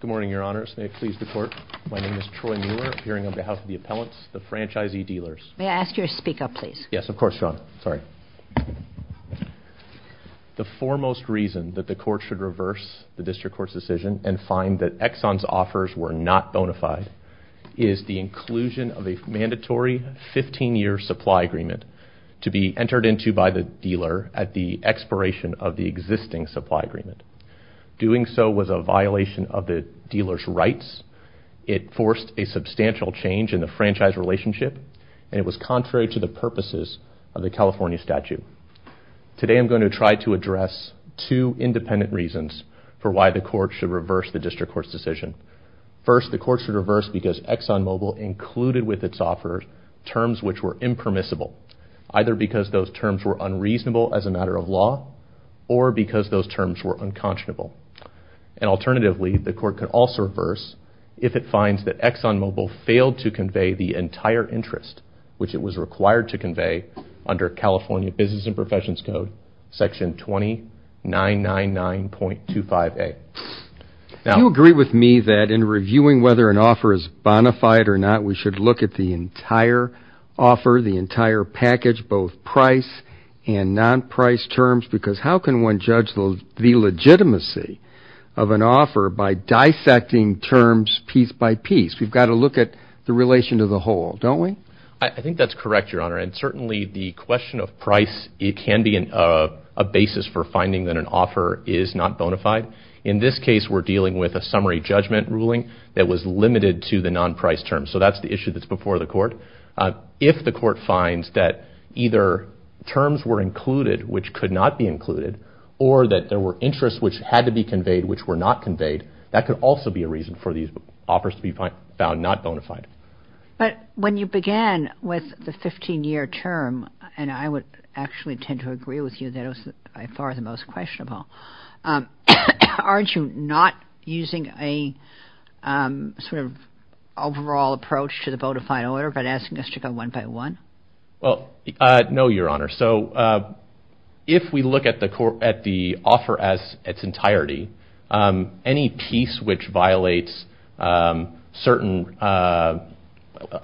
Good morning, Your Honors. May it please the Court, my name is Troy Mueller, appearing on behalf of the Appellants, the Franchisee Dealers. May I ask you to speak up, please? Yes, of course, Your Honor. Sorry. The foremost reason that the Court should reverse the District Court's decision and find that Exxon's offers were not bona fide is the inclusion of a mandatory 15-year supply agreement to be entered into by the dealer at the expiration of the existing supply agreement. Doing so was a violation of the dealer's rights, it forced a substantial change in the franchise relationship, and it was contrary to the purposes of the California statute. Today I'm going to try to address two independent reasons for why the Court should reverse the District Court's decision. First, the Court should reverse because ExxonMobil included with its offers terms which were impermissible, either because those terms were unreasonable as a matter of law or because those terms were unconscionable. And alternatively, the Court can also reverse if it finds that ExxonMobil failed to convey the entire interest which it was required to convey under California Business and Professions Code, Section 20-999.25a. Do you agree with me that in reviewing whether an offer is bona fide or not, we should look at the entire offer, the entire package, both price and non-price terms? Because how can one judge the legitimacy of an offer by dissecting terms piece by piece? We've got to look at the relation to the whole, don't we? I think that's correct, Your Honor, and certainly the question of price can be a basis for finding that an offer is not bona fide. In this case, we're dealing with a summary judgment ruling that was limited to the non-price terms, so that's the issue that's before the Court. If the Court finds that either terms were included which could not be included or that there were interests which had to be conveyed which were not conveyed, that could also be a reason for these offers to be found not bona fide. But when you began with the 15-year term, and I would actually tend to agree with you that it was by far the most questionable, aren't you not using a sort of overall approach to the bona fide order by asking us to go one by one? Well, no, Your Honor. So if we look at the offer as its entirety, any piece which violates certain...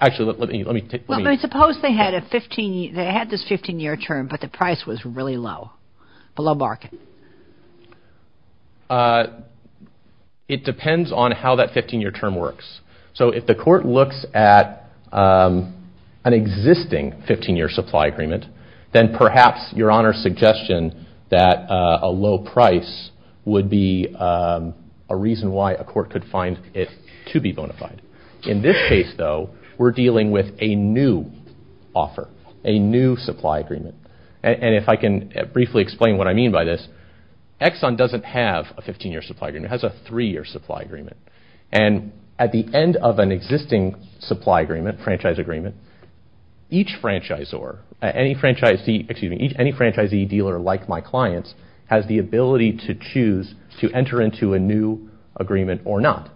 Actually, let me... Suppose they had this 15-year term, but the price was really low, below market. It depends on how that 15-year term works. So if the Court looks at an existing 15-year supply agreement, then perhaps Your Honor's suggestion that a low price would be a reason why a court could find it to be bona fide. In this case, though, we're dealing with a new offer, a new supply agreement. And if I can briefly explain what I mean by this, Exxon doesn't have a 15-year supply agreement. It has a three-year supply agreement. And at the end of an existing supply agreement, franchise agreement, each franchisor, excuse me, any franchisee dealer like my clients has the ability to choose to enter into a new agreement or not.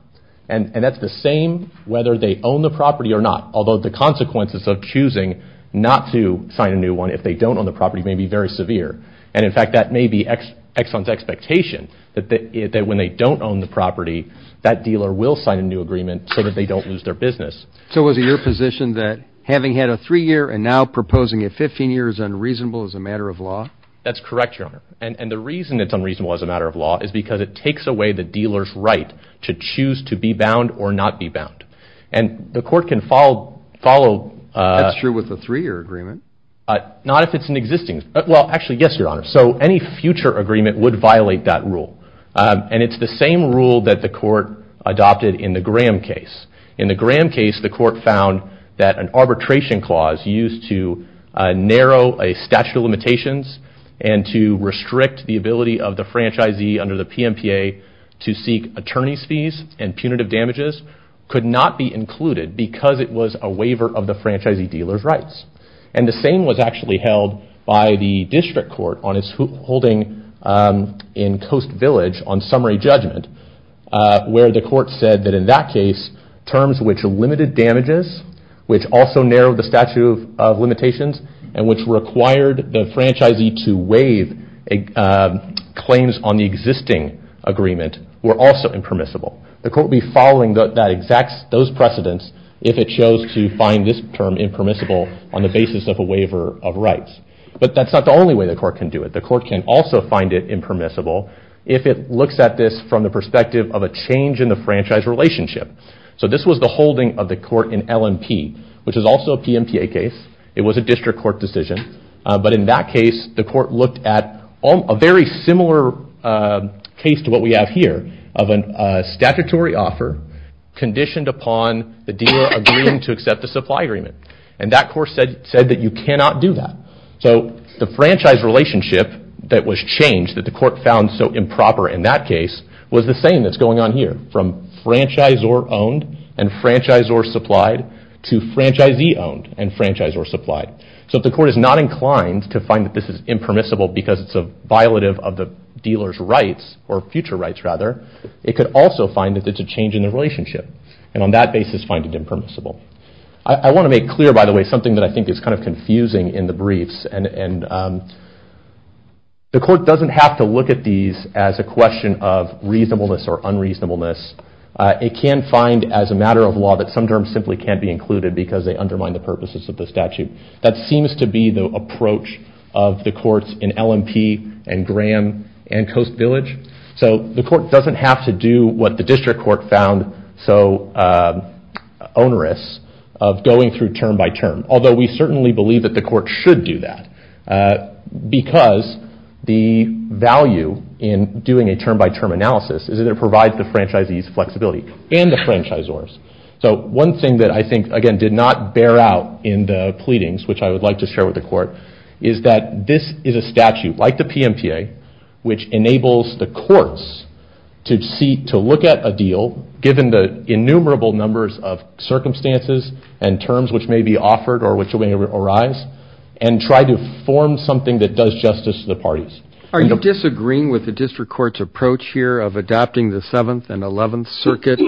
And that's the same whether they own the property or not, although the consequences of choosing not to sign a new one if they don't own the property. Exxon's expectation that when they don't own the property, that dealer will sign a new agreement so that they don't lose their business. So was it your position that having had a three-year and now proposing a 15-year is unreasonable as a matter of law? That's correct, Your Honor. And the reason it's unreasonable as a matter of law is because it takes away the dealer's right to choose to be bound or not be bound. And the Court can follow... That's true with a three-year agreement. Not if it's an existing... Well, actually, yes, Your Honor. So any future agreement would violate that rule. And it's the same rule that the Court adopted in the Graham case. In the Graham case, the Court found that an arbitration clause used to narrow a statute of limitations and to restrict the ability of the franchisee under the PMPA to seek attorney's fees and punitive damages could not be included because it was a waiver of the franchisee dealer's rights. And the same was actually held by the District Court on its holding in Coast Village on summary judgment, where the Court said that in that case, terms which limited damages, which also narrowed the statute of limitations, and which required the franchisee to waive claims on the existing agreement, were also impermissible. The Court would be following those precedents if it chose to find this term impermissible on the basis of a waiver of rights. But that's not the only way the Court can do it. The Court can also find it impermissible if it looks at this from the perspective of a change in the franchise relationship. So this was the holding of the Court in LMP, which is also a PMPA case. It was a District Court decision. But in that case, the Court looked at a very similar case to what we have here of a statutory offer conditioned upon the dealer agreeing to accept the supply agreement. And that Court said that you cannot do that. So the franchise relationship that was changed, that the Court found so improper in that case, was the same that's going on here, from franchisor owned and franchisor supplied to franchisee owned and franchisor supplied. So if the Court is not inclined to find that this is impermissible because it's a violative of the dealer's rights, or future rights rather, it could also find that it's a change in the relationship, and on that basis find it impermissible. I want to make clear, by the way, something that I think is kind of confusing in the briefs. The Court doesn't have to look at these as a question of reasonableness or unreasonableness. It can find, as a matter of law, that some terms simply can't be included because they undermine the purposes of the statute. That seems to be the approach of the Courts in L&P and Graham and Coast Village. So the Court doesn't have to do what the District Court found so onerous of going through term by term, although we certainly believe that the Court should do that, because the value in doing a term by term analysis is that it provides the franchisees flexibility, and the franchisors. So one thing that I think, again, did not bear out in the pleadings, which I would like to share with the Court, is that this is a statute, like the PMTA, which enables the Courts to look at a deal, given the innumerable numbers of circumstances and terms which may be offered or which may arise, and try to form something that does justice to the parties. Are you disagreeing with the District Court's approach here of adopting the 7th and 11th Circuit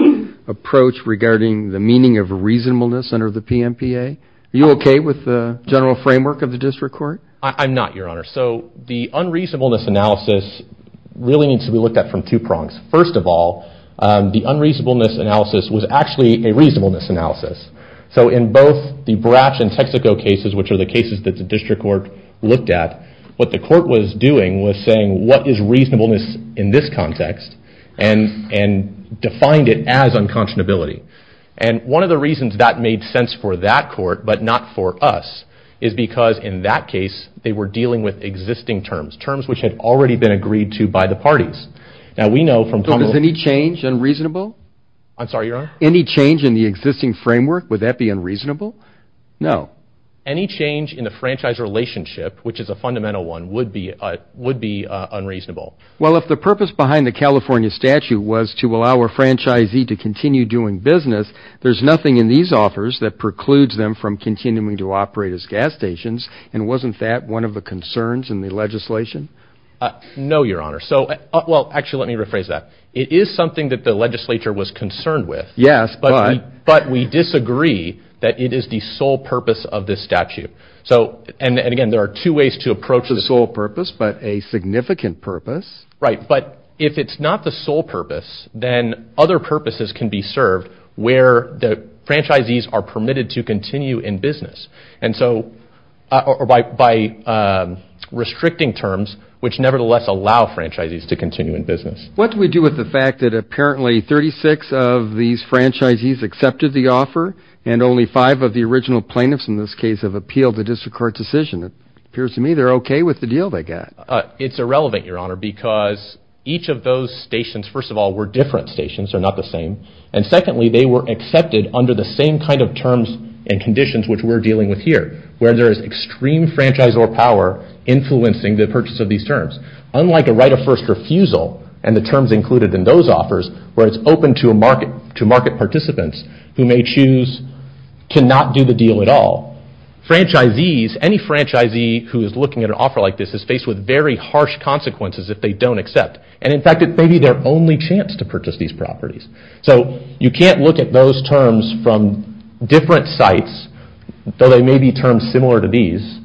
approach regarding the meaning of reasonableness under the PMTA? Are you okay with the general framework of the District Court? I'm not, Your Honor. So the unreasonableness analysis really needs to be looked at from two prongs. First of all, the unreasonableness analysis was actually a reasonableness analysis. So in both the Brach and Texaco cases, which are the cases that the District Court looked at, what the Court was doing was saying, what is reasonableness in this context, and defined it as unconscionability. And one of the reasons that made sense for that Court, but not for us, is because in that case, they were dealing with existing terms, terms which had already been agreed to by the parties. Now we know from... So was any change unreasonable? I'm sorry, Your Honor? Any change in the existing framework, would that be unreasonable? No. Any change in the franchise relationship, which is a fundamental one, would be unreasonable. Well, if the purpose behind the California statute was to allow a franchisee to continue doing business, there's nothing in these offers that precludes them from continuing to operate as gas stations, and wasn't that one of the concerns in the legislation? No, Your Honor. So... Well, actually, let me rephrase that. It is something that the legislature was concerned with. Yes, but... So, and again, there are two ways to approach this... The sole purpose, but a significant purpose. Right, but if it's not the sole purpose, then other purposes can be served where the franchisees are permitted to continue in business. And so, or by restricting terms, which nevertheless allow franchisees to continue in business. What do we do with the fact that apparently 36 of these franchisees accepted the offer, and only five of the original plaintiffs in this case have appealed the district court decision? It appears to me they're okay with the deal they got. It's irrelevant, Your Honor, because each of those stations, first of all, were different stations, they're not the same, and secondly, they were accepted under the same kind of terms and conditions which we're dealing with here, where there is extreme franchisee power influencing the purchase of these terms. Unlike a right of first refusal, and the terms included in those offers, where it's open to market participants who may choose to not do the deal at all. Franchisees, any franchisee who is looking at an offer like this, is faced with very harsh consequences if they don't accept. And in fact, it may be their only chance to purchase these properties. So, you can't look at those terms from different sites, though they may be terms similar to these,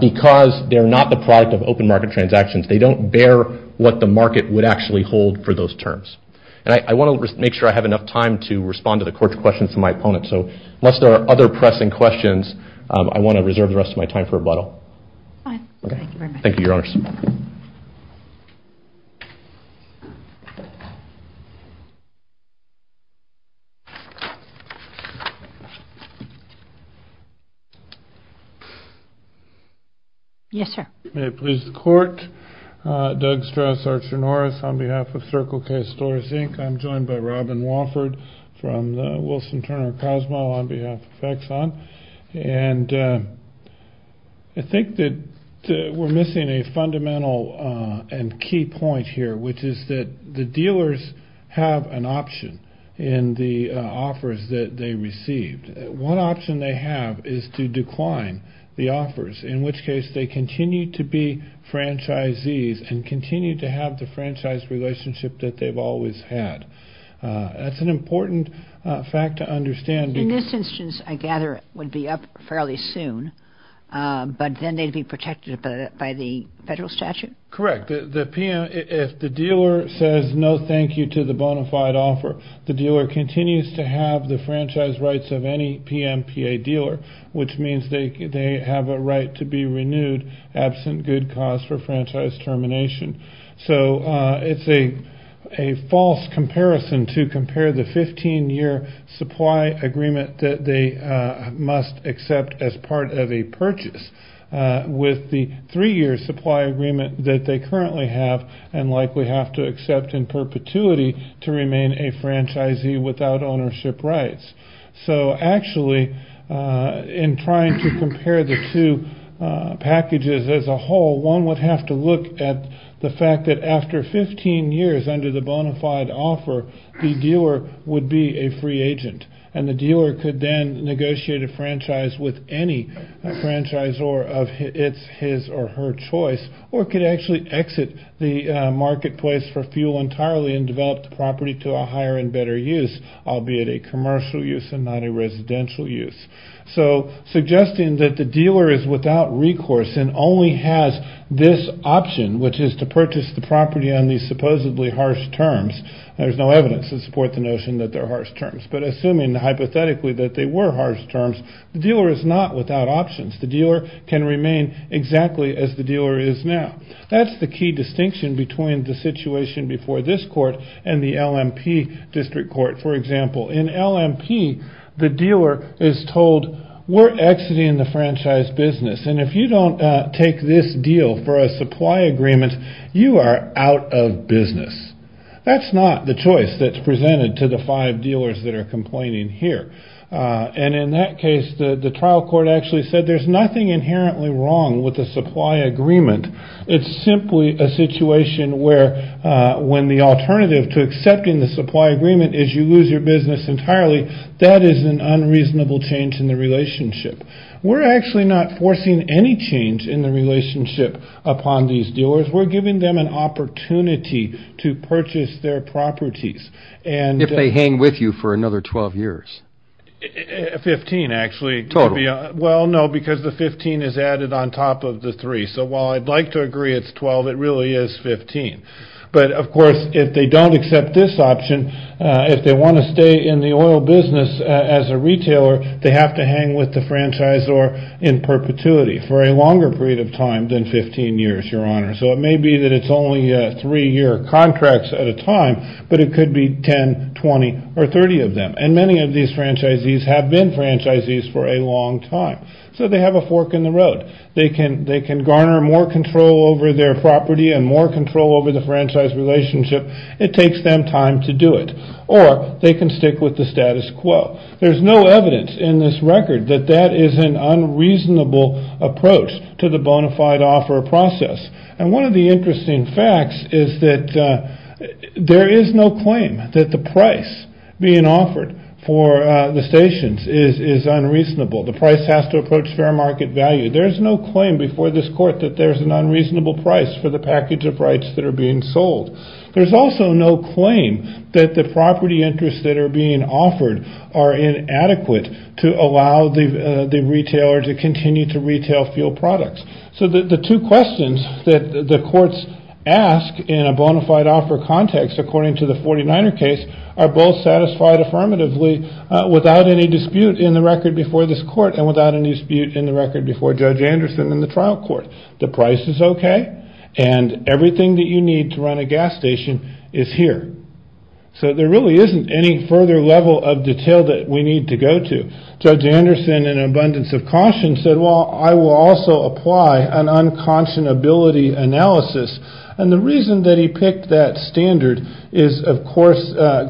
because they're not the product of open market transactions. They don't bear what the market would actually hold for those terms. And I want to make sure I have enough time to respond to the court's questions to my opponent. So, unless there are other pressing questions, I want to reserve the rest of my time for rebuttal. Fine, thank you very much. Thank you, Your Honors. Yes, sir. May it please the court, Doug Strauss, Archer Norris, on behalf of Circle Case Stores Inc. I'm joined by Robin Wofford from the Wilson Turner Cosmo on behalf of Exxon. And I think that we're missing a fundamental and key point here, which is that the dealers have an option in the offers that they received. One option they have is to decline the offers, in which case they continue to be franchisees and continue to have the franchise relationship that they've always had. That's an important fact to understand. In this instance, I gather it would be up fairly soon, but then they'd be protected by the federal statute? Correct. If the dealer says no thank you to the bona fide offer, the dealer continues to have the franchise rights of any PMPA dealer, which means they have a right to be renewed absent good cause for franchise termination. So it's a false comparison to compare the 15-year supply agreement that they must accept as part of a purchase with the three-year supply agreement that they currently have and likely have to accept in perpetuity to remain a franchisee without ownership rights. So actually, in trying to compare the two packages as a whole, one would have to look at the fact that after 15 years under the bona fide offer, the dealer would be a free agent, and the dealer could then negotiate a franchise with any franchisor of his or her choice, or could actually exit the marketplace for fuel entirely and develop the property to a higher and better use, albeit a commercial use and not a residential use. So suggesting that the dealer is without recourse and only has this option, which is to purchase the property on these supposedly harsh terms, there's no evidence to support the notion that they're harsh terms, but assuming hypothetically that they were harsh terms, the dealer is not without options. The dealer can remain exactly as the dealer is now. That's the key distinction between the situation before this court and the LMP district court. For example, in LMP, the dealer is told, we're exiting the franchise business, and if you don't take this deal for a supply agreement, you are out of business. That's not the choice that's presented to the five dealers that are complaining here. And in that case, the trial court actually said there's nothing inherently wrong with a supply agreement. It's simply a situation where, when the alternative to accepting the supply agreement is you lose your business entirely, that is an unreasonable change in the relationship. We're actually not forcing any change in the relationship upon these dealers. We're giving them an opportunity to purchase their properties. And... If they hang with you for another 12 years. 15, actually. Total. Well, no, because the 15 is added on top of the three. So while I'd like to agree it's 12, it really is 15. But of course, if they don't accept this option, if they want to stay in the oil business as a retailer, they have to hang with the franchisor in perpetuity for a longer period of time than 15 years, Your Honor. So it may be that it's only three-year contracts at a time, but it could be 10, 20, or 30 of them. And many of these franchisees have been franchisees for a long time. So they have a fork in the road. They can garner more control over their property and more control over the franchise relationship. It takes them time to do it. Or they can stick with the status quo. There's no evidence in this record that that is an unreasonable approach to the bona fide offer process. And one of the interesting facts is that there is no claim that the price being offered for the stations is unreasonable. The price has to approach fair market value. There's no claim before this court that there's an unreasonable price for the package of rights that are being sold. There's also no claim that the property interests that are being offered are inadequate to allow the retailer to continue to retail fuel products. So the two questions that the courts ask in a bona fide offer context, according to the 49er case, are both satisfied affirmatively without any dispute in the record before this court and without any dispute in the record before Judge Anderson in the trial court. The price is okay, and everything that you need to run a gas station is here. So there really isn't any further level of detail that we need to go to. Judge Anderson, in an abundance of caution, said, well, I will also apply an unconscionability analysis. And the reason that he picked that standard is, of course,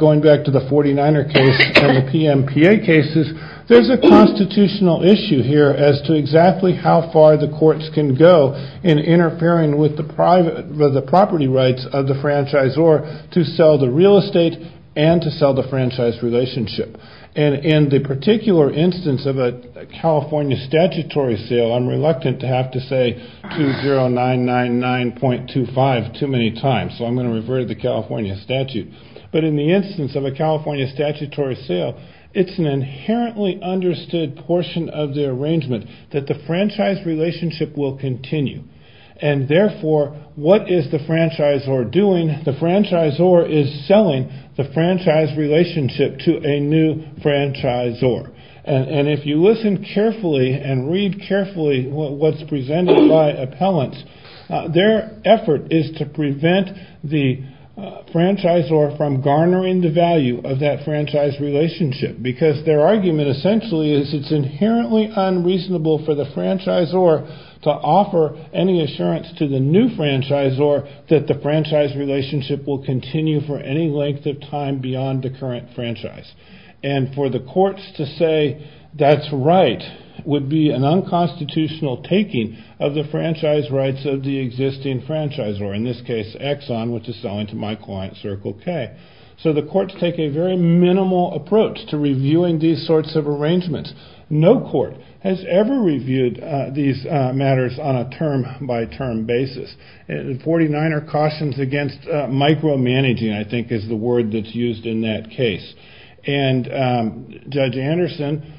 going back to the 49er case and the PMPA cases, there's a constitutional issue here as to exactly how far the courts can go in interfering with the property rights of the franchisor to sell the real estate and to sell the franchise relationship. And in the particular instance of a California statutory sale, I'm reluctant to have to say 2099.25 too many times, so I'm going to revert to the California statute. But in the instance of a California statutory sale, it's an inherently understood portion of the arrangement that the franchise relationship will continue. And therefore, what is the franchisor doing? The franchisor is selling the franchise relationship to a new franchisor. And if you listen carefully and read carefully what's presented by appellants, their effort is to prevent the franchisor from garnering the value of that franchise relationship. Because their argument, essentially, is it's inherently unreasonable for the franchisor to offer any assurance to the new franchisor that the franchise relationship will continue for any length of time beyond the current franchise. And for the courts to say, that's right, would be an unconstitutional taking of the franchise rights of the existing franchisor, in this case, Exxon, which is selling to my client, Circle K. So the courts take a very minimal approach to reviewing these sorts of arrangements. No court has ever reviewed these matters on a term-by-term basis. 49er cautions against micromanaging, I think, is the word that's used in that case. And Judge Anderson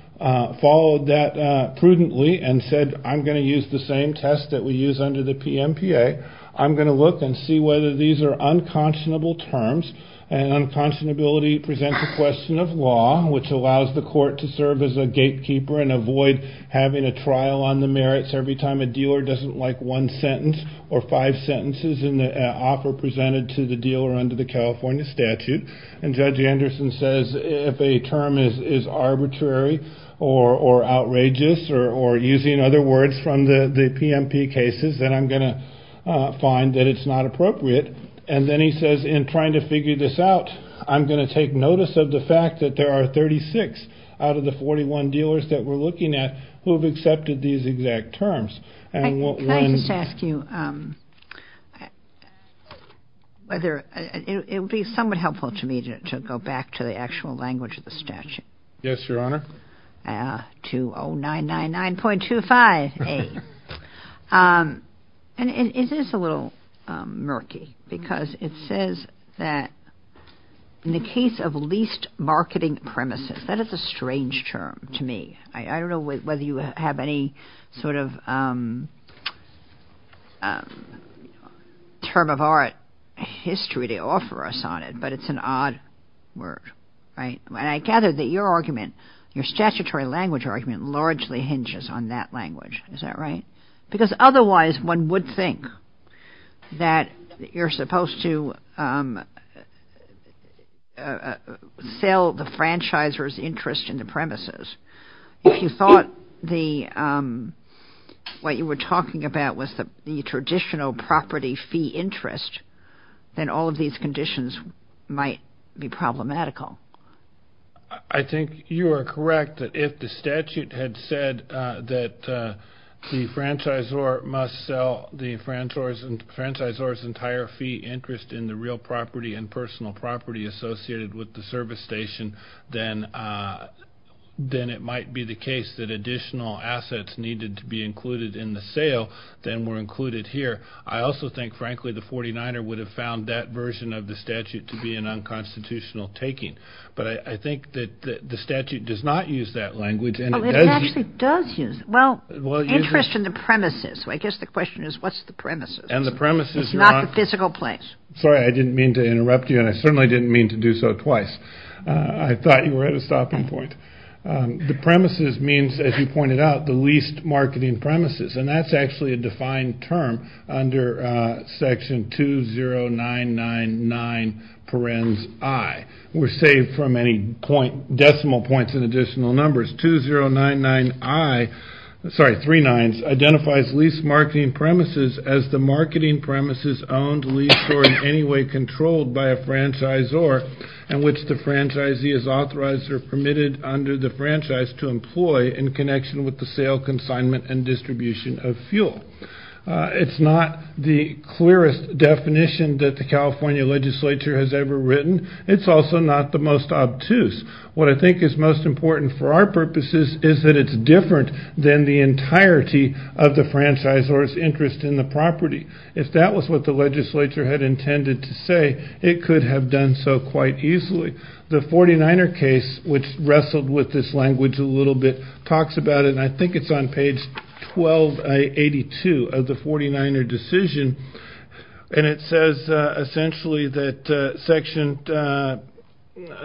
followed that prudently and said, I'm going to use the same test that we use under the PMPA. I'm going to look and see whether these are unconscionable terms. And unconscionability presents a question of law, which allows the court to serve as a gatekeeper and avoid having a trial on the merits every time a dealer doesn't like one sentence or five sentences in the offer presented to the dealer under the California statute. And Judge Anderson says, if a term is arbitrary or outrageous, or using other words from the PMP cases, then I'm going to find that it's not appropriate. And then he says, in trying to figure this out, I'm going to take notice of the fact that there are 36 out of the 41 dealers that we're looking at who have accepted these exact terms. Can I just ask you whether it would be somewhat helpful to me to go back to the actual language of the statute? Yes, Your Honor. 2099.258. And it is a little murky because it says that in the case of least marketing premises, that is a strange term to me. I don't know whether you have any sort of term of art history to offer us on it, but it's an odd word, right? And I gather that your argument, your statutory language argument, largely hinges on that language. Is that right? Because otherwise, one would think that you're supposed to sell the franchisor's interest in the premises. If you thought what you were talking about was the traditional property fee interest, then all of these conditions might be problematical. I think you are correct that if the statute had said that the franchisor must sell the franchisor's entire fee interest in the real property and personal property associated with the service station, then it might be the case that additional assets needed to be included in the sale, then were included here. I also think, frankly, the 49er would have found that version of the statute to be an unconstitutional taking. But I think that the statute does not use that language. Oh, it actually does use it. Well, interest in the premises. I guess the question is, what's the premises? And the premises, Your Honor. It's not the physical place. Sorry, I didn't mean to interrupt you, and I certainly didn't mean to do so twice. I thought you were at a stopping point. The premises means, as you pointed out, the leased marketing premises. And that's actually a defined term under section 20999 parens I. We're saved from any decimal points in additional numbers. 2099 I, sorry, three nines, identifies leased marketing premises as the marketing premises owned, leased, or in any way controlled by a franchisor in which the franchisee is authorized or permitted under the franchise to employ in connection with the sale, consignment, and distribution of fuel. It's not the clearest definition that the California legislature has ever written. It's also not the most obtuse. What I think is most important for our purposes is that it's different than the entirety of the franchisor's interest in the property. If that was what the legislature had intended to say, it could have done so quite easily. The 49er case, which wrestled with this language a little bit, talks about it, and I think it's on page 1282 of the 49er decision. And it says essentially that section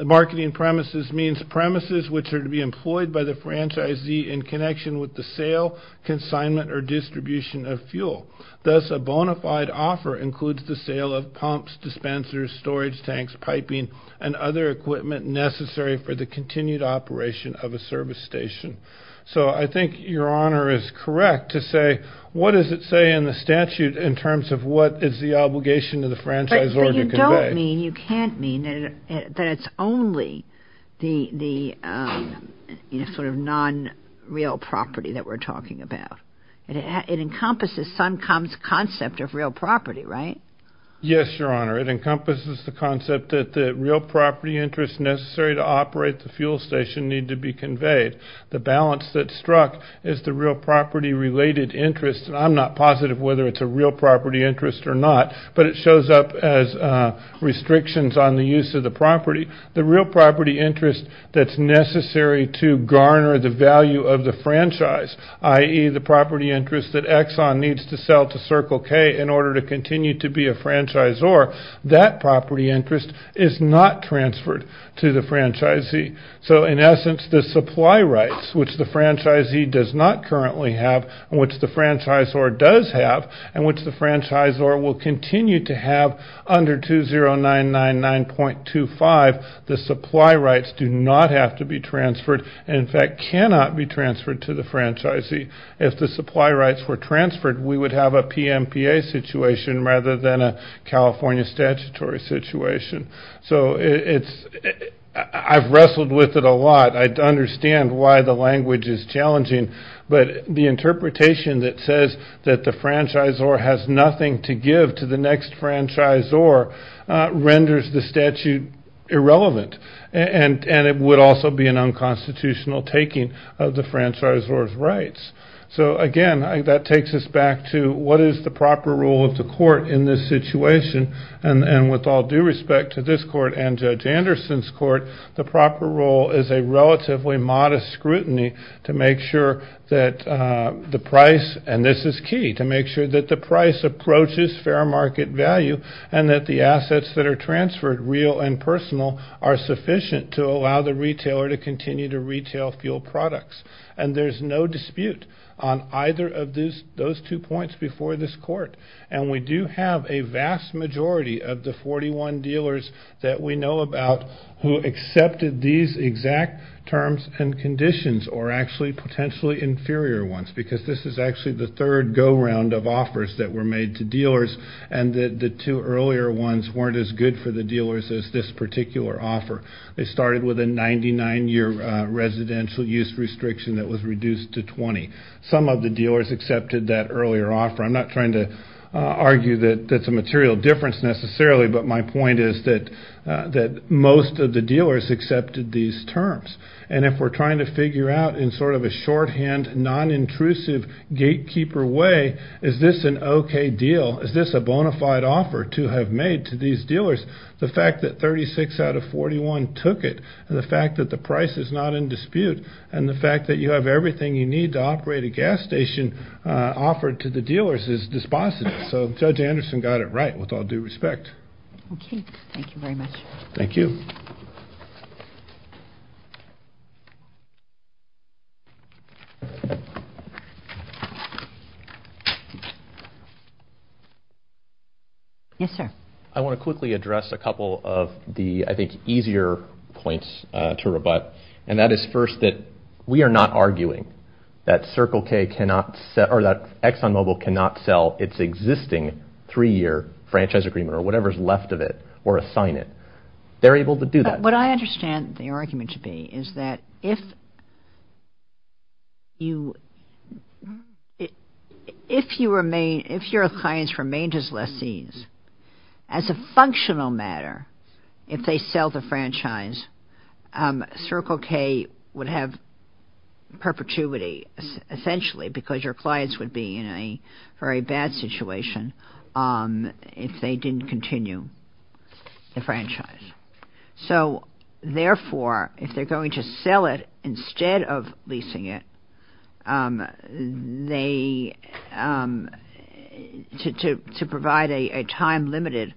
marketing premises means premises which are to be employed by the franchisee in connection with the sale, consignment, or distribution of fuel. Thus, a bona fide offer includes the sale of pumps, dispensers, storage tanks, piping, and other equipment necessary for the continued operation of a service station. So I think your honor is correct to say, what does it say in the statute in terms of what is the obligation of the franchisor to convey? But you don't mean, you can't mean, that it's only the sort of non-real property that we're talking about. It encompasses Suncom's concept of real property, right? Yes, your honor. It encompasses the concept that the real property interest necessary to operate the fuel station need to be conveyed. The balance that struck is the real property related interest, and I'm not positive whether it's a real property interest or not, but it shows up as restrictions on the use of the property. The real property interest that's necessary to garner the value of the franchise, i.e. the property interest that Exxon needs to sell to Circle K in order to continue to be a franchisor, that property interest is not transferred to the franchisee. So in essence, the supply rights which the franchisee does not currently have and which the franchisor does have and which the franchisor will continue to have under 2099.25, the supply rights do not have to be transferred and in fact cannot be transferred to the franchisee. If the supply rights were transferred, we would have a PMPA situation rather than a California statutory situation. So I've wrestled with it a lot. I understand why the language is challenging, but the interpretation that says that the franchisor has nothing to give to the next franchisor renders the statute irrelevant of the franchisor's rights. So again, that takes us back to what is the proper role of the court in this situation and with all due respect to this court and Judge Anderson's court, the proper role is a relatively modest scrutiny to make sure that the price, and this is key, to make sure that the price approaches fair market value and that the assets that are transferred, real and personal, are sufficient to allow the retailer to continue to retail fuel products. And there's no dispute on either of those two points before this court. And we do have a vast majority of the 41 dealers that we know about who accepted these exact terms and conditions or actually potentially inferior ones because this is actually the third go-round of offers that were made to dealers and the two earlier ones weren't as good for the dealers as this particular offer. They started with a 99-year residential use restriction that was reduced to 20. Some of the dealers accepted that earlier offer. I'm not trying to argue that that's a material difference necessarily, but my point is that most of the dealers accepted these terms. And if we're trying to figure out in sort of a shorthand non-intrusive gatekeeper way, is this an okay deal? Is this a bona fide offer to have made to these dealers? The fact that 36 out of 41 took it and the fact that the price is not in dispute and the fact that you have everything you need to operate a gas station offered to the dealers is dispositive. So Judge Anderson got it right with all due respect. Okay, thank you very much. Thank you. Yes, sir. I want to quickly address a couple of the, I think, easier points to rebut. And that is first that we are not arguing that Circle K cannot sell or that ExxonMobil cannot sell its existing three-year franchise agreement or whatever's left of it or assign it. They're able to do that. What I understand the argument to be is that if your clients remain as lessees, as a functional matter, if they sell the franchise, Circle K would have perpetuity essentially because your clients would be in a very bad situation if they didn't continue the franchise. So therefore, if they're going to sell it instead of leasing it, they, to provide a time-limited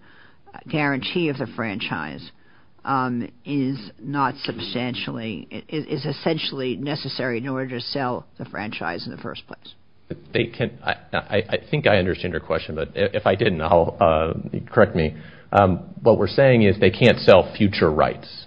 guarantee of the franchise is not substantially, is essentially necessary in order to sell the franchise in the first place. They can, I think I understand your question, but if I didn't, correct me. What we're saying is they can't sell future rights.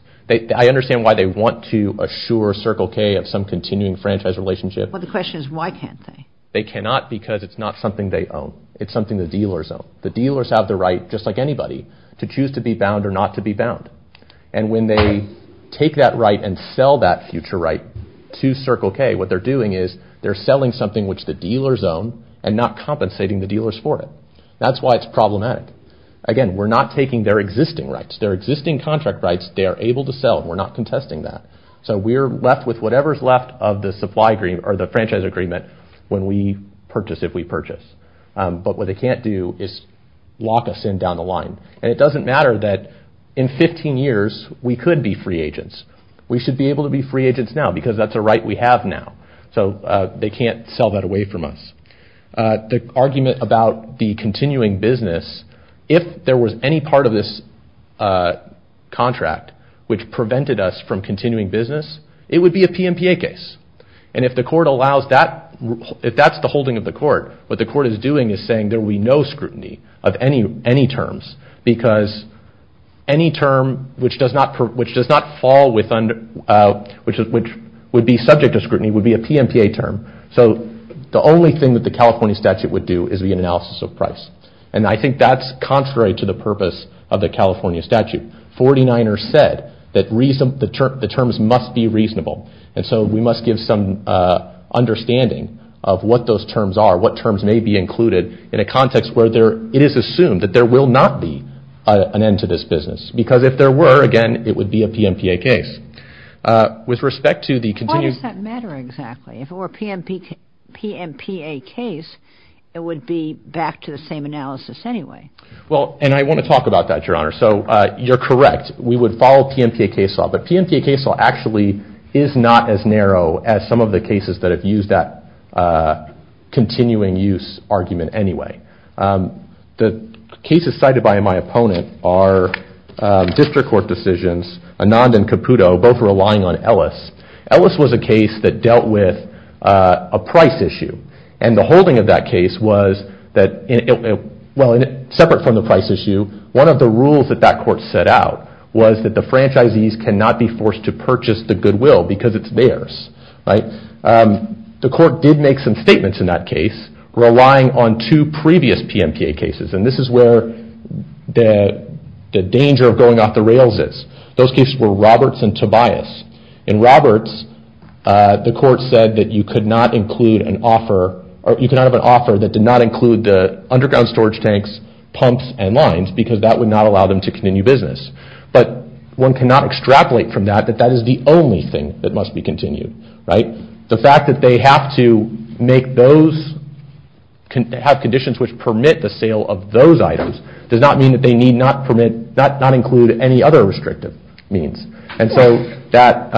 I understand why they want to assure Circle K of some continuing franchise relationship. Well, the question is why can't they? They cannot because it's not something they own. It's something the dealers own. The dealers have the right, just like anybody, to choose to be bound or not to be bound. And when they take that right and sell that future right to Circle K, what they're doing is they're selling something which the dealers own and not compensating the dealers for it. That's why it's problematic. Again, we're not taking their existing rights. Their existing contract rights, they are able to sell and we're not contesting that. So we're left with whatever's left of the supply agreement or the franchise agreement when we purchase if we purchase. But what they can't do is lock us in down the line. And it doesn't matter that in 15 years we could be free agents. We should be able to be free agents now because that's a right we have now. So they can't sell that away from us. The argument about the continuing business, if there was any part of this contract which prevented us from continuing business, it would be a PMPA case. And if that's the holding of the court, what the court is doing is saying there will be no scrutiny of any terms because any term which would be subject to scrutiny would be a PMPA term. So the only thing that the California statute would do is be an analysis of price. And I think that's contrary to the purpose of the California statute. 49ers said that the terms must be reasonable. And so we must give some understanding of what those terms are, what terms may be included in a context where it is assumed that there will not be an end to this business. Because if there were, again, it would be a PMPA case. With respect to the continued- Why does that matter exactly? If it were a PMPA case, it would be back to the same analysis anyway. Well, and I want to talk about that, Your Honor. So you're correct. We would follow PMPA case law. But PMPA case law actually is not as narrow as some of the cases that have used that continuing-use argument anyway. The cases cited by my opponent are district court decisions, Anand and Caputo, both relying on Ellis. Ellis was a case that dealt with a price issue. And the holding of that case was that- Well, separate from the price issue, one of the rules that that court set out was that the franchisees cannot be forced to purchase the goodwill because it's theirs. The court did make some statements in that case, relying on two previous PMPA cases. And this is where the danger of going off the rails is. Those cases were Roberts and Tobias. In Roberts, the court said that you could not include an offer- Or you could not have an offer that did not include the underground storage tanks, pumps, and lines, because that would not allow them to continue business. But one cannot extrapolate from that that that is the only thing that must be continued, right? The fact that they have to make those- have conditions which permit the sale of those items does not mean that they need not permit- not include any other restrictive means. And so that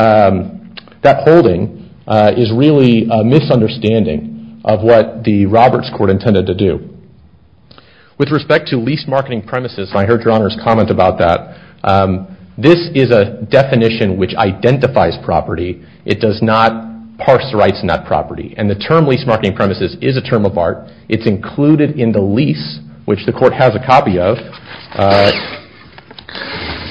holding is really a misunderstanding of what the Roberts court intended to do. With respect to lease marketing premises, I heard your Honor's comment about that. This is a definition which identifies property. It does not parse rights in that property. And the term lease marketing premises is a term of art. It's included in the lease, which the court has a copy of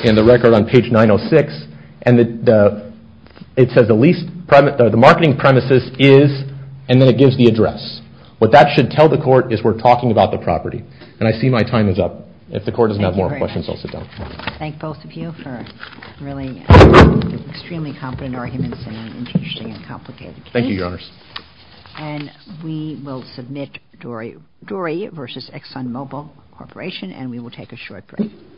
in the record on page 906. And it says the marketing premises is- and then it gives the address. What that should tell the court is we're talking about the property. And I see my time is up. If the court doesn't have more questions, I'll sit down. Thank you very much. Thank both of you for really extremely competent arguments and interesting and complicated cases. Thank you, Your Honors. And we will submit Dory v. ExxonMobil Corporation, and we will take a short break.